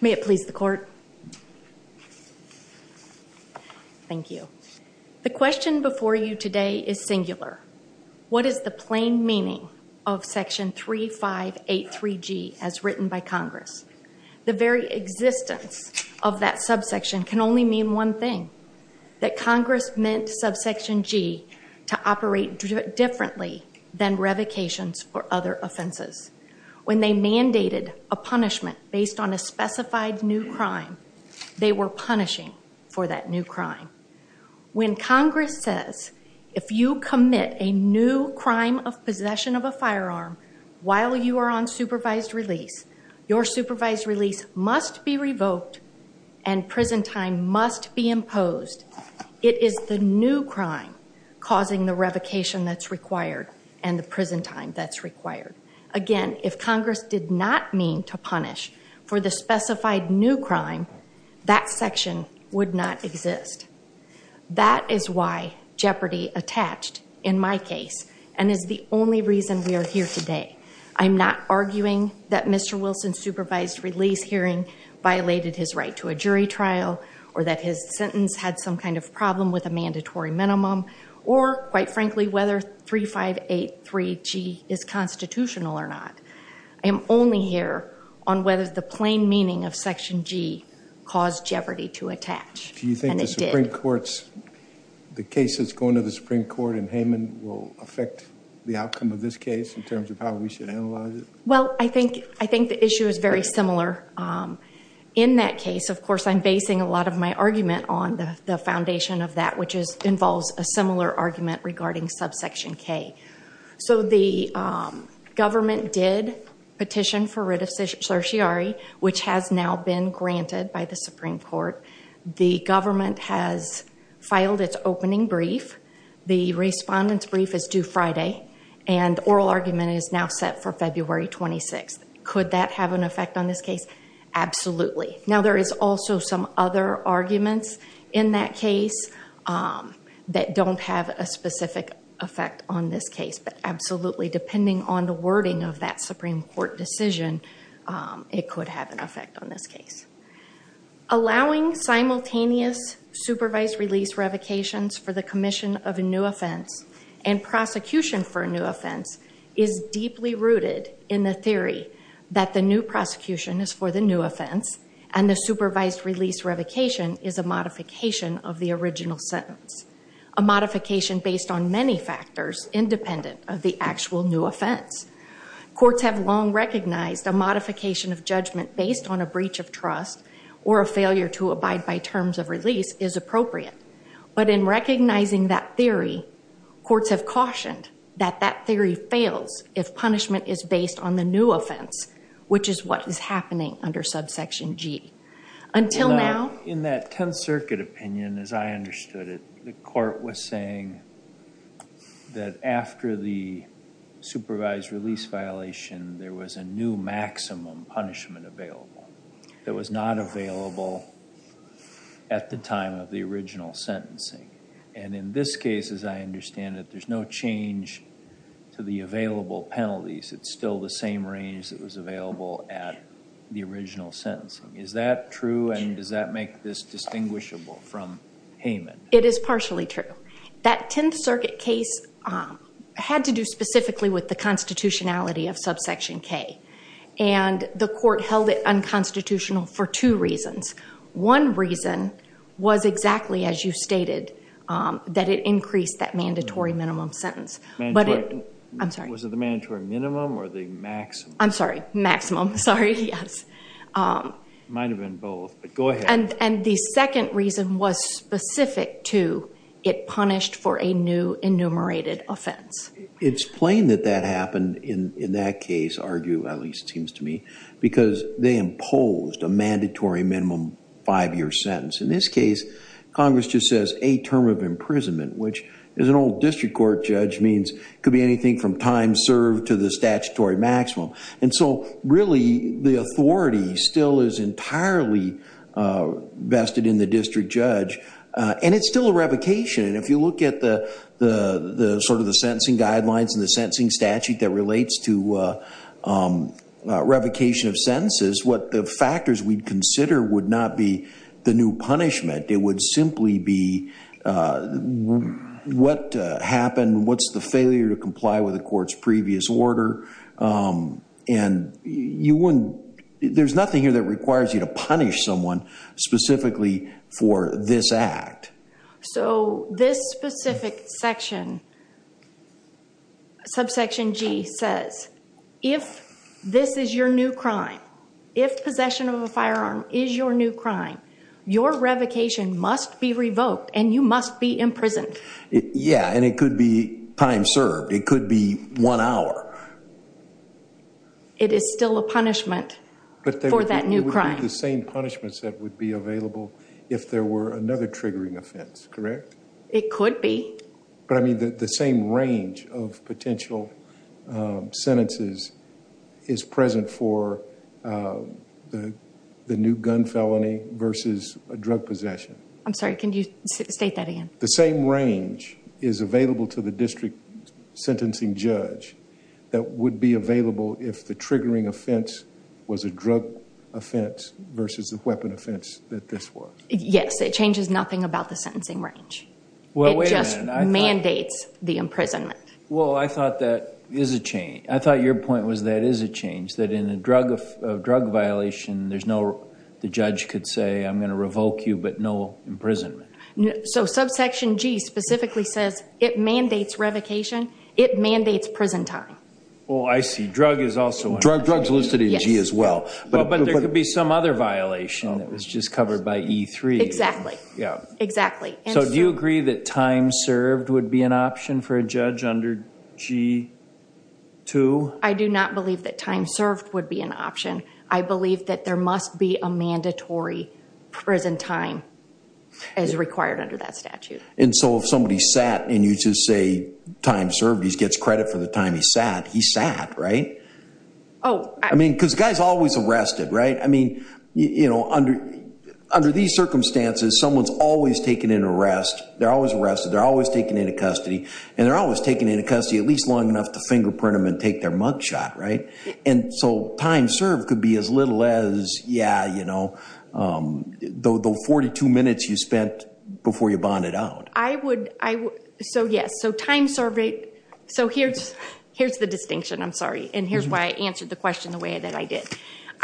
May it please the court. Thank you. The question before you today is singular. What is the plain meaning of section 3583G as written by Congress? The very existence of that subsection can only mean one thing. That Congress meant subsection G to operate differently than revocations or other offenses. When they mandated a punishment based on a specified new crime, they were punishing for that new crime. When Congress says if you commit a new crime of possession of a firearm while you are on supervised release, your supervised release must be revoked and prison time must be imposed. It is the new crime causing the revocation that's required and the prison time that's required. Again, if Congress did not mean to punish for the specified new crime, that section would not exist. That is why jeopardy attached in my case and is the only reason we are here today. I'm not arguing that Mr. Wilson's supervised release hearing violated his right to a jury trial or that his sentence had some kind of problem with a mandatory minimum or quite frankly whether 3583G is constitutional or not. I am only here on whether the plain meaning of section G caused jeopardy to attach. Do you think the Supreme Court's, the case that's going to the Supreme Court in Hayman will affect the outcome of this case in terms of how we should analyze it? Well, I think the issue is very similar. In that case, of course, I'm basing a lot of my argument on the foundation of that which involves a similar argument regarding subsection K. The government did petition for writ of certiorari which has now been granted by the Supreme Court. The government has filed its opening brief. The respondent's brief is due Friday and oral argument is now set for February 26th. Could that have an effect on this case? Absolutely. Now, there is also some other arguments in that case that don't have a specific effect on this case, but absolutely depending on the wording of that Supreme Court decision, it could have an effect on this case. Allowing simultaneous supervised release revocations for the commission of a new offense and prosecution for a new offense is deeply rooted in the theory that the new prosecution is for the new offense and the supervised release revocation is a modification of the original sentence, a modification based on many factors independent of the actual new offense. Courts have long recognized a modification of judgment based on a breach of trust or a failure to abide by terms of release is appropriate, but in recognizing that theory, courts have cautioned that that theory fails if punishment is based on the new offense which is what is happening under subsection G. Until now... In that Tenth Circuit opinion, as I understood it, the court was saying that after the supervised release violation, there was a new maximum punishment available. It was not available at the time of the original sentencing. And in this case, as I understand it, there's no change to the available penalties. It's still the same range that was available at the original sentencing. Is that true and does that make this distinguishable from Hayman? It is partially true. That Tenth Circuit case had to do specifically with the constitutionality of subsection K, and the court held it unconstitutional for two reasons. One reason was exactly as you stated, that it increased that mandatory minimum sentence. Was it the mandatory minimum or the maximum? I'm sorry, maximum, sorry, yes. It might have been both, but go ahead. And the second reason was specific to it punished for a new enumerated offense. It's plain that that happened in that case, argue at least it seems to me, because they imposed a mandatory minimum five-year sentence. In this case, Congress just says a term of imprisonment, which as an old district court judge means could be anything from time served to the statutory maximum. And so really the authority still is entirely vested in the district judge, and it's still a revocation. And if you look at the sort of the sentencing guidelines and the sentencing statute that relates to revocation of sentences, what the factors we'd consider would not be the new punishment. It would simply be what happened, what's the failure to comply with the court's previous order, and there's nothing here that requires you to punish someone specifically for this act. So this specific section, subsection G, says if this is your new crime, if possession of a firearm is your new crime, your revocation must be revoked and you must be imprisoned. Yeah, and it could be time served. It could be one hour. It is still a punishment for that new crime. But they would be the same punishments that would be available if there were another triggering offense, correct? It could be. But I mean the same range of potential sentences is present for the new gun felony versus a drug possession. I'm sorry, can you state that again? The same range is available to the district sentencing judge that would be available if the triggering offense was a drug offense versus a weapon offense that this was. Yes, it changes nothing about the sentencing range. It just mandates the imprisonment. Well, I thought that is a change. I thought your point was that is a change, that in a drug violation, the judge could say I'm going to revoke you but no imprisonment. So subsection G specifically says it mandates revocation, it mandates prison time. Oh, I see. Drugs listed in G as well. But there could be some other violation that was just covered by E3. Exactly. So do you agree that time served would be an option for a judge under G2? I do not believe that time served would be an option. I believe that there must be a mandatory prison time as required under that statute. And so if somebody sat and you just say time served, he gets credit for the time he sat, he sat, right? Oh. I mean, because the guy's always arrested, right? I mean, you know, under these circumstances, someone's always taken into arrest, they're always arrested, they're always taken into custody, and they're always taken into custody at least long enough to fingerprint them and take their mug shot, right? And so time served could be as little as, yeah, you know, the 42 minutes you spent before you bonded out. I would, so yes, so time served, so here's the distinction, I'm sorry, and here's why I answered the question the way that I did.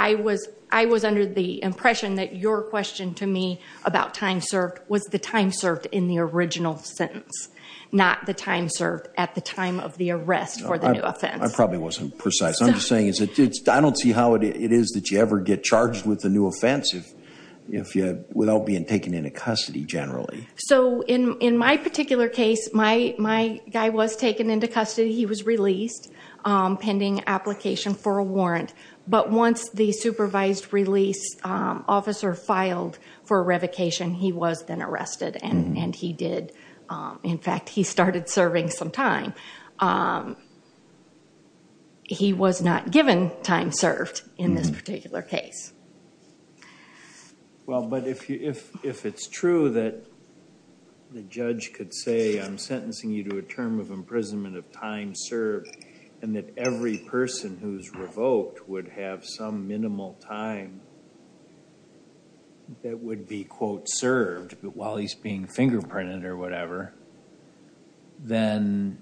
I was under the impression that your question to me about time served was the time served in the original sentence, not the time served at the time of the arrest for the new offense. I probably wasn't precise. I'm just saying I don't see how it is that you ever get charged with a new offense without being taken into custody generally. So in my particular case, my guy was taken into custody. He was released pending application for a warrant. But once the supervised release officer filed for revocation, he was then arrested, and he did, in fact, he started serving some time. He was not given time served in this particular case. Well, but if it's true that the judge could say I'm sentencing you to a term of imprisonment of time served and that every person who's revoked would have some minimal time that would be, quote, served while he's being fingerprinted or whatever, then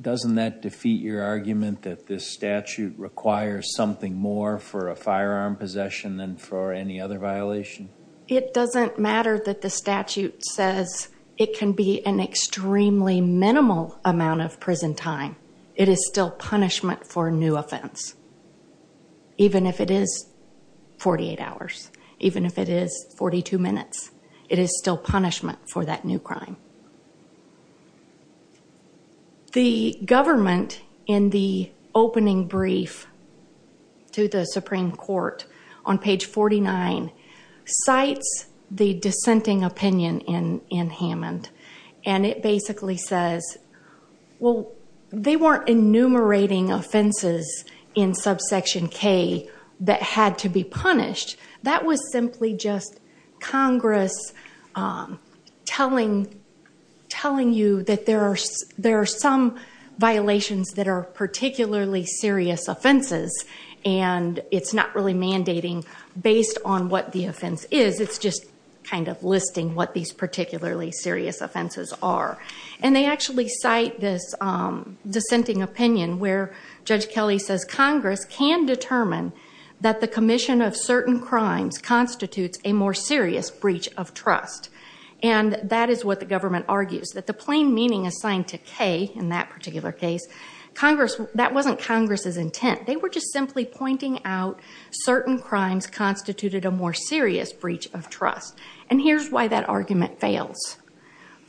doesn't that defeat your argument that this statute requires something more for a firearm possession than for any other violation? It doesn't matter that the statute says it can be an extremely minimal amount of prison time. It is still punishment for a new offense. Even if it is 48 hours, even if it is 42 minutes, it is still punishment for that new crime. The government, in the opening brief to the Supreme Court on page 49, cites the dissenting opinion in Hammond, and it basically says, well, they weren't enumerating offenses in subsection K that had to be punished. That was simply just Congress telling you that there are some violations that are particularly serious offenses, and it's not really mandating based on what the offense is. It's just kind of listing what these particularly serious offenses are. They actually cite this dissenting opinion where Judge Kelly says Congress can determine that the commission of certain crimes constitutes a more serious breach of trust, and that is what the government argues, that the plain meaning assigned to K in that particular case, that wasn't Congress's intent. They were just simply pointing out certain crimes constituted a more serious breach of trust, and here's why that argument fails.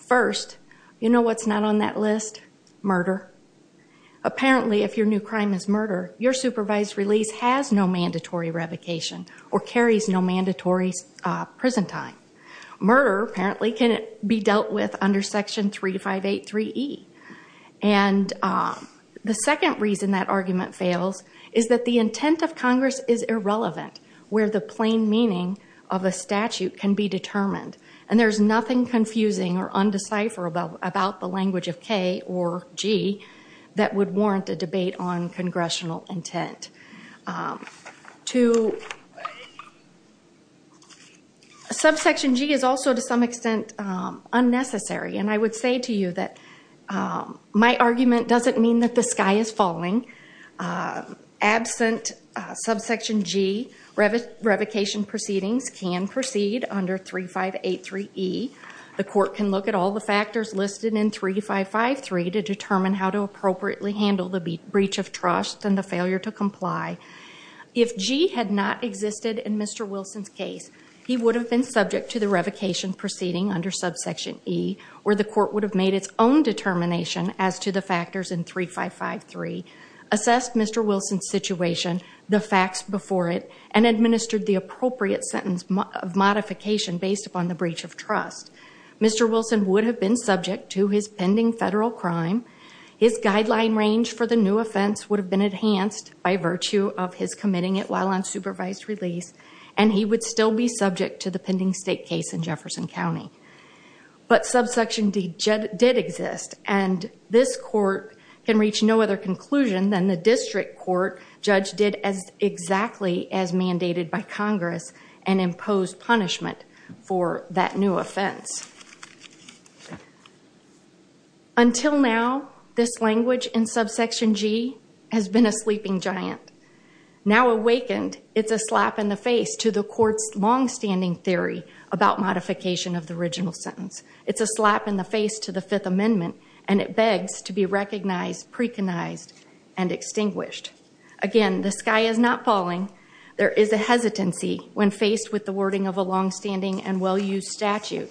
First, you know what's not on that list? Murder. Apparently, if your new crime is murder, your supervised release has no mandatory revocation or carries no mandatory prison time. Murder, apparently, can be dealt with under section 3583E. And the second reason that argument fails is that the intent of Congress is irrelevant where the plain meaning of a statute can be determined, and there's nothing confusing or undecipherable about the language of K or G that would warrant a debate on congressional intent. Two, subsection G is also to some extent unnecessary, and I would say to you that my argument doesn't mean that the sky is falling. Absent subsection G, revocation proceedings can proceed under 3583E. The court can look at all the factors listed in 3553 to determine how to appropriately handle the breach of trust and the failure to comply. If G had not existed in Mr. Wilson's case, he would have been subject to the revocation proceeding under subsection E, where the court would have made its own determination as to the factors in 3553, assessed Mr. Wilson's situation, the facts before it, and administered the appropriate sentence of modification based upon the breach of trust. Mr. Wilson would have been subject to his pending federal crime. His guideline range for the new offense would have been enhanced by virtue of his committing it while on supervised release, and he would still be subject to the pending state case in Jefferson County. But subsection D did exist, and this court can reach no other conclusion than the district court judge did exactly as mandated by Congress and imposed punishment for that new offense. Until now, this language in subsection G has been a sleeping giant. Now awakened, it's a slap in the face to the court's longstanding theory about modification of the original sentence. It's a slap in the face to the Fifth Amendment, and it begs to be recognized, preconized, and extinguished. Again, the sky is not falling. There is a hesitancy when faced with the wording of a longstanding and well-used statute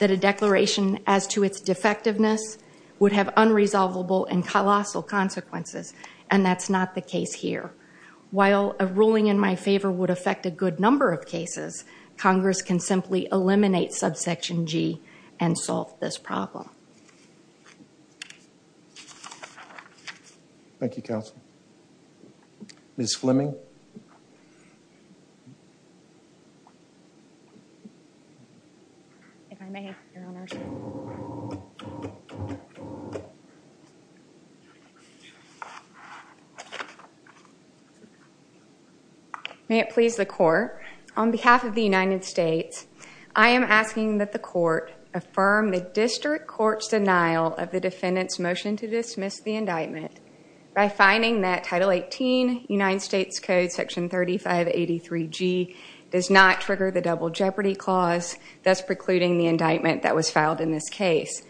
that a declaration as to its defectiveness would have unresolvable and colossal consequences, and that's not the case here. While a ruling in my favor would affect a good number of cases, Congress can simply eliminate subsection G and solve this problem. Thank you, Counsel. Ms. Fleming? If I may, Your Honors. May it please the Court. On behalf of the United States, I am asking that the Court affirm the district court's denial of the defendant's motion to dismiss the indictment by finding that Title 18, United States Code Section 3583G does not trigger the Double Jeopardy Clause, thus precluding the indictment that was filed in this case.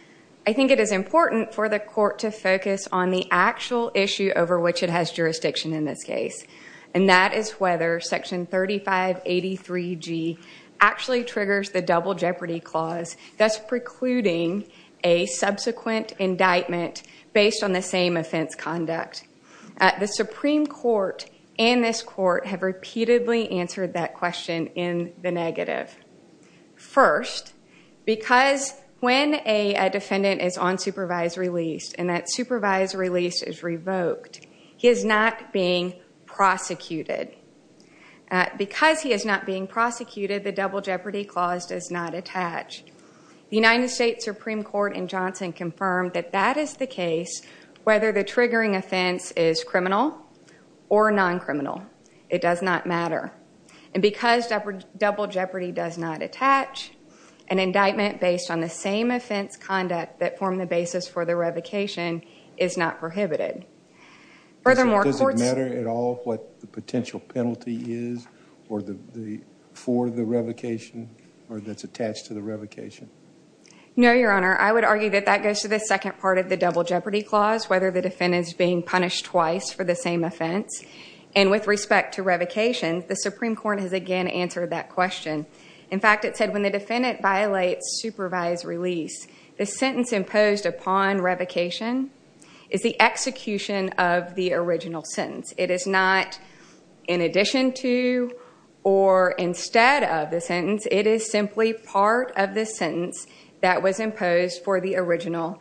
I think it is important for the Court to focus on the actual issue over which it has jurisdiction in this case, and that is whether Section 3583G actually triggers the Double Jeopardy Clause, thus precluding a subsequent indictment based on the same offense conduct. The Supreme Court and this Court have repeatedly answered that question in the negative. First, because when a defendant is on supervised release and that supervised release is revoked, he is not being prosecuted. Because he is not being prosecuted, the Double Jeopardy Clause does not attach. The United States Supreme Court in Johnson confirmed that that is the case whether the triggering offense is criminal or non-criminal. It does not matter. And because Double Jeopardy does not attach, an indictment based on the same offense conduct that formed the basis for the revocation is not prohibited. Does it matter at all what the potential penalty is for the revocation or that's attached to the revocation? No, Your Honor. I would argue that that goes to the second part of the Double Jeopardy Clause, whether the defendant is being punished twice for the same offense. And with respect to revocation, the Supreme Court has again answered that question. In fact, it said when the defendant violates supervised release, the sentence imposed upon revocation is the execution of the original sentence. It is not in addition to or instead of the sentence. It is simply part of the sentence that was imposed for the original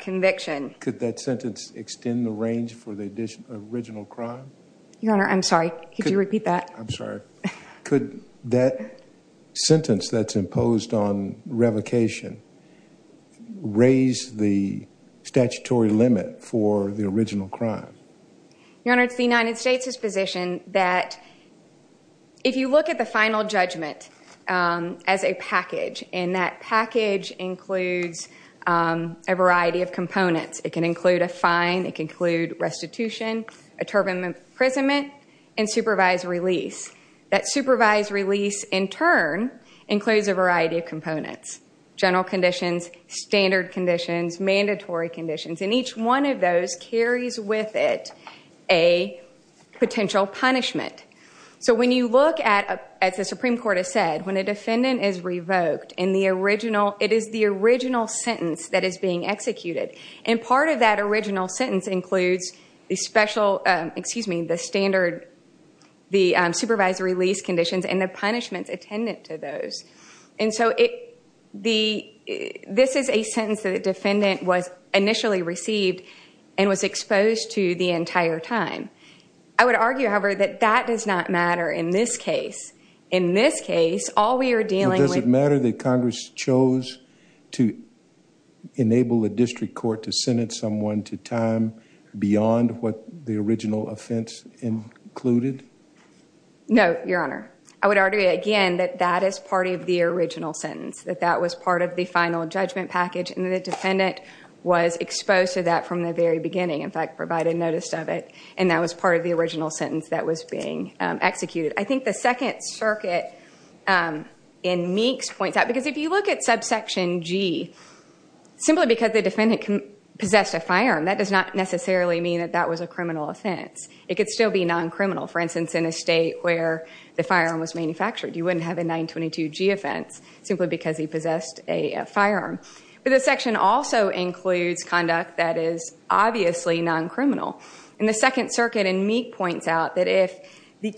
conviction. Could that sentence extend the range for the original crime? Your Honor, I'm sorry. Could you repeat that? I'm sorry. Could that sentence that's imposed on revocation raise the statutory limit for the original crime? Your Honor, it's the United States' position that if you look at the final judgment as a package, and that package includes a variety of components. It can include a fine. It can include restitution, a term of imprisonment, and supervised release. That supervised release in turn includes a variety of components, general conditions, standard conditions, mandatory conditions, and each one of those carries with it a potential punishment. When you look at, as the Supreme Court has said, when a defendant is revoked, it is the original sentence that is being executed. Part of that original sentence includes the supervisory release conditions and the punishments attendant to those. This is a sentence that a defendant was initially received and was exposed to the entire time. I would argue, however, that that does not matter in this case. In this case, all we are dealing with— Does it matter that Congress chose to enable a district court to sentence someone to time beyond what the original offense included? No, Your Honor. I would argue again that that is part of the original sentence, that that was part of the final judgment package, and the defendant was exposed to that from the very beginning. In fact, provided notice of it, and that was part of the original sentence that was being executed. I think the second circuit in Meeks points out— Because if you look at subsection G, simply because the defendant possessed a firearm, that does not necessarily mean that that was a criminal offense. It could still be non-criminal. For instance, in a state where the firearm was manufactured, you wouldn't have a 922G offense simply because he possessed a firearm. But the section also includes conduct that is obviously non-criminal. The second circuit in Meeks points out that if a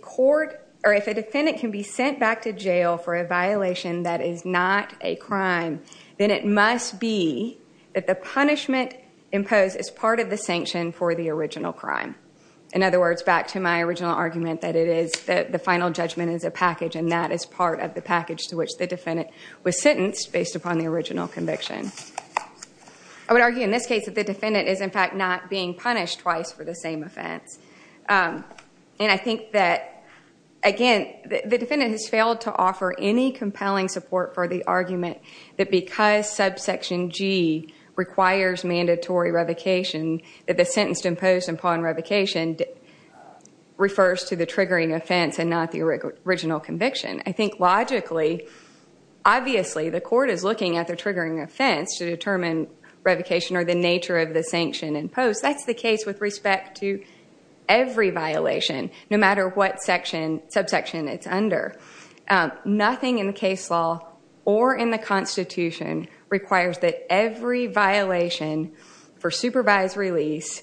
defendant can be sent back to jail for a violation that is not a crime, then it must be that the punishment imposed is part of the sanction for the original crime. In other words, back to my original argument that the final judgment is a package, and that is part of the package to which the defendant was sentenced based upon the original conviction. I would argue in this case that the defendant is, in fact, not being punished twice for the same offense. And I think that, again, the defendant has failed to offer any compelling support for the argument that because subsection G requires mandatory revocation, that the sentence imposed upon revocation refers to the triggering offense and not the original conviction. I think logically, obviously, the court is looking at the triggering offense to determine revocation or the nature of the sanction imposed. That's the case with respect to every violation, no matter what subsection it's under. Nothing in the case law or in the Constitution requires that every violation for supervised release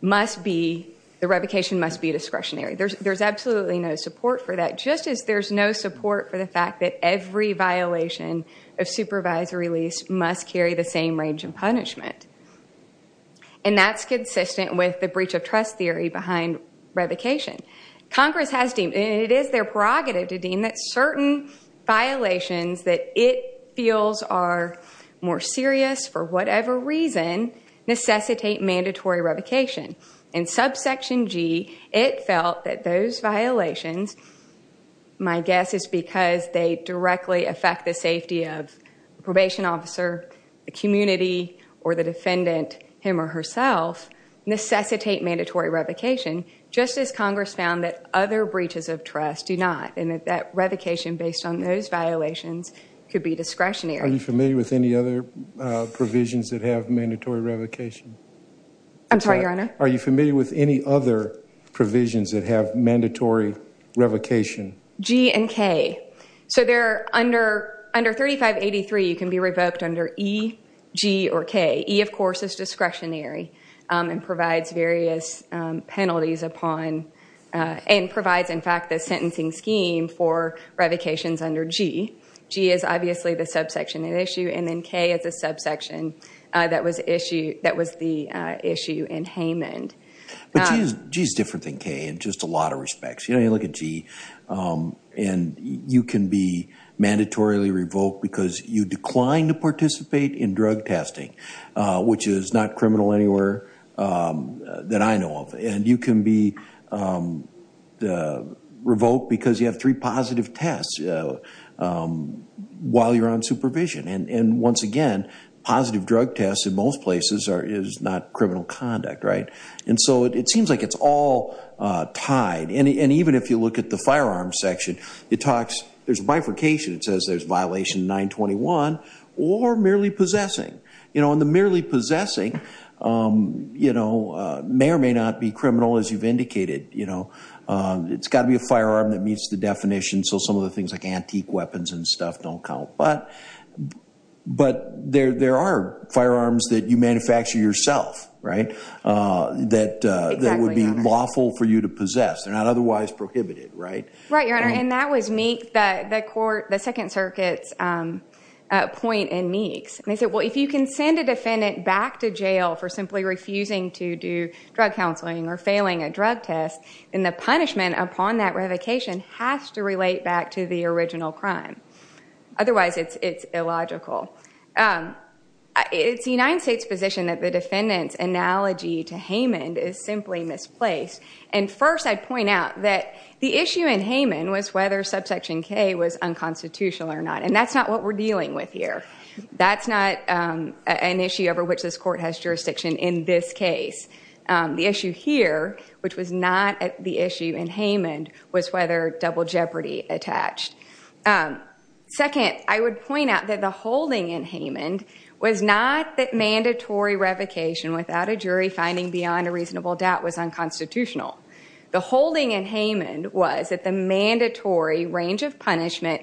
must be, the revocation must be discretionary. There's absolutely no support for that, just as there's no support for the fact that every violation of supervised release must carry the same range of punishment. And that's consistent with the breach of trust theory behind revocation. Congress has deemed, and it is their prerogative to deem, that certain violations that it feels are more serious for whatever reason necessitate mandatory revocation. In subsection G, it felt that those violations, my guess is because they directly affect the safety of a probation officer, a community, or the defendant, him or herself, necessitate mandatory revocation, just as Congress found that other breaches of trust do not. And that that revocation, based on those violations, could be discretionary. Are you familiar with any other provisions that have mandatory revocation? I'm sorry, Your Honor? Are you familiar with any other provisions that have mandatory revocation? G and K. So, under 3583, you can be revoked under E, G, or K. E, of course, is discretionary and provides various penalties upon, and provides, in fact, the sentencing scheme for revocations under G. G is obviously the subsection at issue, and then K is a subsection that was the issue in Haymond. But G is different than K in just a lot of respects. You know, you look at G, and you can be mandatorily revoked because you declined to participate in drug testing, which is not criminal anywhere that I know of. And you can be revoked because you have three positive tests while you're on supervision. And once again, positive drug tests in most places is not criminal conduct, right? And so it seems like it's all tied. And even if you look at the firearms section, it talks, there's bifurcation. It says there's violation 921 or merely possessing. You know, and the merely possessing, you know, may or may not be criminal as you've indicated. You know, it's got to be a firearm that meets the definition, so some of the things like antique weapons and stuff don't count. But there are firearms that you manufacture yourself, right? Exactly, Your Honor. That would be lawful for you to possess. They're not otherwise prohibited, right? Right, Your Honor. And that was the court, the Second Circuit's point in Meeks. And they said, well, if you can send a defendant back to jail for simply refusing to do drug counseling or failing a drug test, then the punishment upon that revocation has to relate back to the original crime. Otherwise, it's illogical. It's the United States' position that the defendant's analogy to Haymond is simply misplaced. And first, I'd point out that the issue in Haymond was whether Subsection K was unconstitutional or not, and that's not what we're dealing with here. That's not an issue over which this court has jurisdiction in this case. The issue here, which was not the issue in Haymond, was whether double jeopardy attached. Second, I would point out that the holding in Haymond was not that mandatory revocation without a jury finding beyond a reasonable doubt was unconstitutional. The holding in Haymond was that the mandatory range of punishment,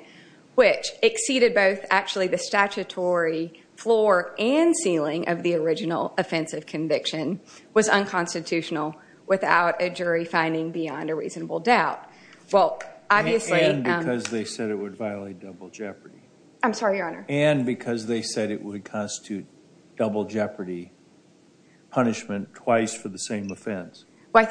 which exceeded both actually the statutory floor and ceiling of the original offensive conviction, was unconstitutional without a jury finding beyond a reasonable doubt. And because they said it would violate double jeopardy. I'm sorry, Your Honor. And because they said it would constitute double jeopardy punishment twice for the same offense. I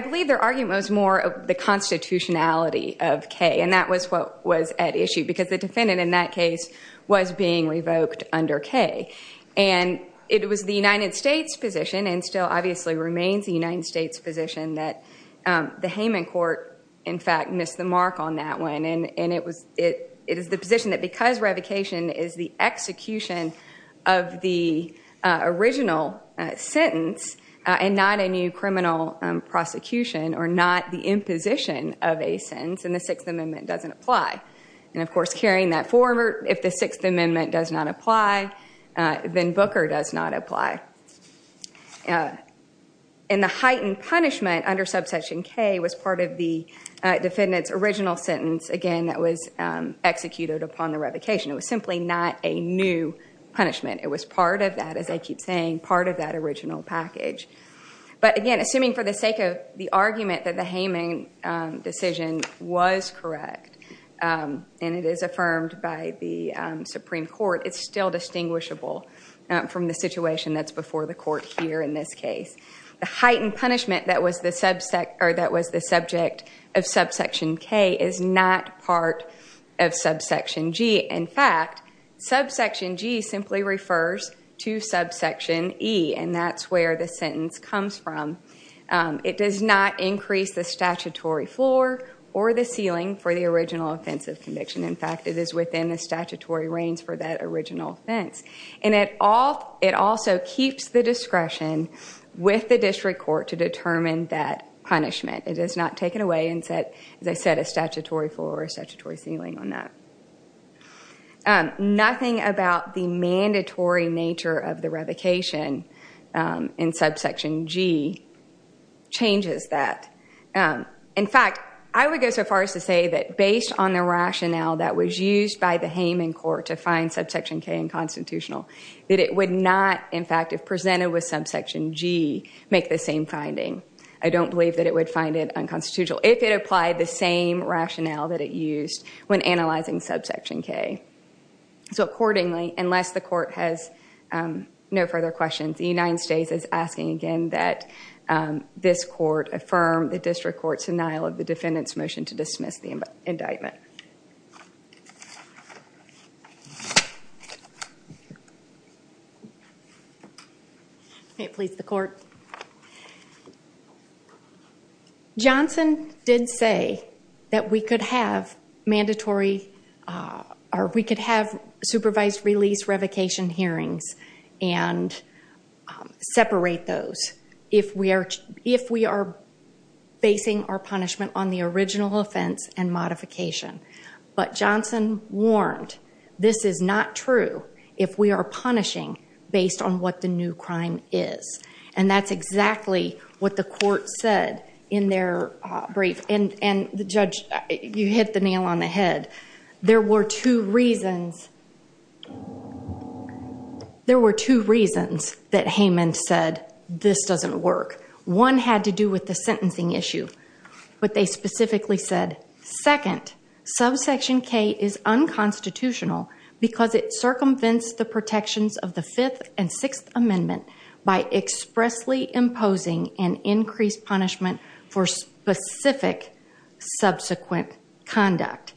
believe their argument was more of the constitutionality of K, and that was what was at issue because the defendant in that case was being revoked under K. And it was the United States position, and still obviously remains the United States position, that the Haymond court, in fact, missed the mark on that one. And it is the position that because revocation is the execution of the original sentence and not a new criminal prosecution or not the imposition of a sentence, and the Sixth Amendment doesn't apply. And, of course, carrying that forward, if the Sixth Amendment does not apply, then Booker does not apply. And the heightened punishment under subsection K was part of the defendant's original sentence, again, that was executed upon the revocation. It was simply not a new punishment. It was part of that, as I keep saying, part of that original package. But, again, assuming for the sake of the argument that the Haymond decision was correct, and it is affirmed by the Supreme Court, it's still distinguishable from the situation that's before the court here in this case. The heightened punishment that was the subject of subsection K is not part of subsection G. In fact, subsection G simply refers to subsection E, and that's where the sentence comes from. It does not increase the statutory floor or the ceiling for the original offensive conviction. In fact, it is within the statutory reigns for that original offense. And it also keeps the discretion with the district court to determine that punishment. It does not take it away and set, as I said, a statutory floor or a statutory ceiling on that. Nothing about the mandatory nature of the revocation in subsection G changes that. In fact, I would go so far as to say that based on the rationale that was used by the Haymond court to find subsection K in constitutional, that it would not, in fact, if presented with subsection G, make the same finding. I don't believe that it would find it unconstitutional if it applied the same rationale that it used when analyzing subsection K. So accordingly, unless the court has no further questions, the United States is asking again that this court affirm the district court's denial of the defendant's motion to dismiss the indictment. May it please the court. Johnson did say that we could have supervised release revocation hearings and separate those if we are basing our punishment on the original offense and modification. But Johnson warned this is not true if we are punishing based on what the new crime is. And that's exactly what the court said in their brief. And the judge, you hit the nail on the head. There were two reasons that Haymond said this doesn't work. One had to do with the sentencing issue. But they specifically said, second, subsection K is unconstitutional because it circumvents the protections of the Fifth and Sixth Amendment by expressly imposing an increased punishment for specific subsequent conduct.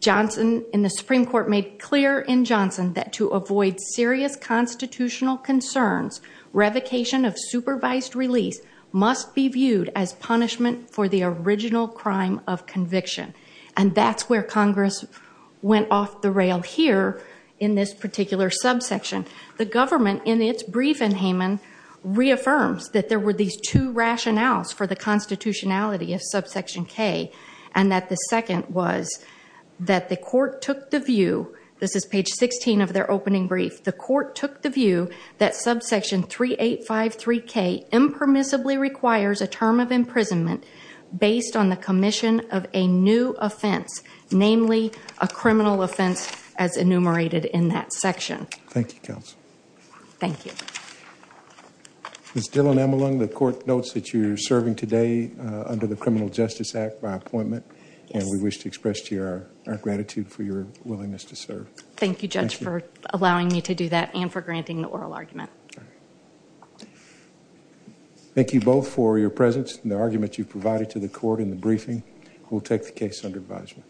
Johnson and the Supreme Court made clear in Johnson that to avoid serious constitutional concerns, revocation of supervised release must be viewed as punishment for the original crime of conviction. And that's where Congress went off the rail here in this particular subsection. The government in its brief in Haymond reaffirms that there were these two rationales for the constitutionality of subsection K. And that the second was that the court took the view, this is page 16 of their opening brief, the court took the view that subsection 3853K impermissibly requires a term of imprisonment based on the commission of a new offense, namely a criminal offense as enumerated in that section. Thank you, Counsel. Thank you. Ms. Dillon-Emelung, the court notes that you're serving today under the Criminal Justice Act by appointment. And we wish to express to you our gratitude for your willingness to serve. Thank you, Judge, for allowing me to do that and for granting the oral argument. Thank you both for your presence and the argument you provided to the court in the briefing. We'll take the case under advisement.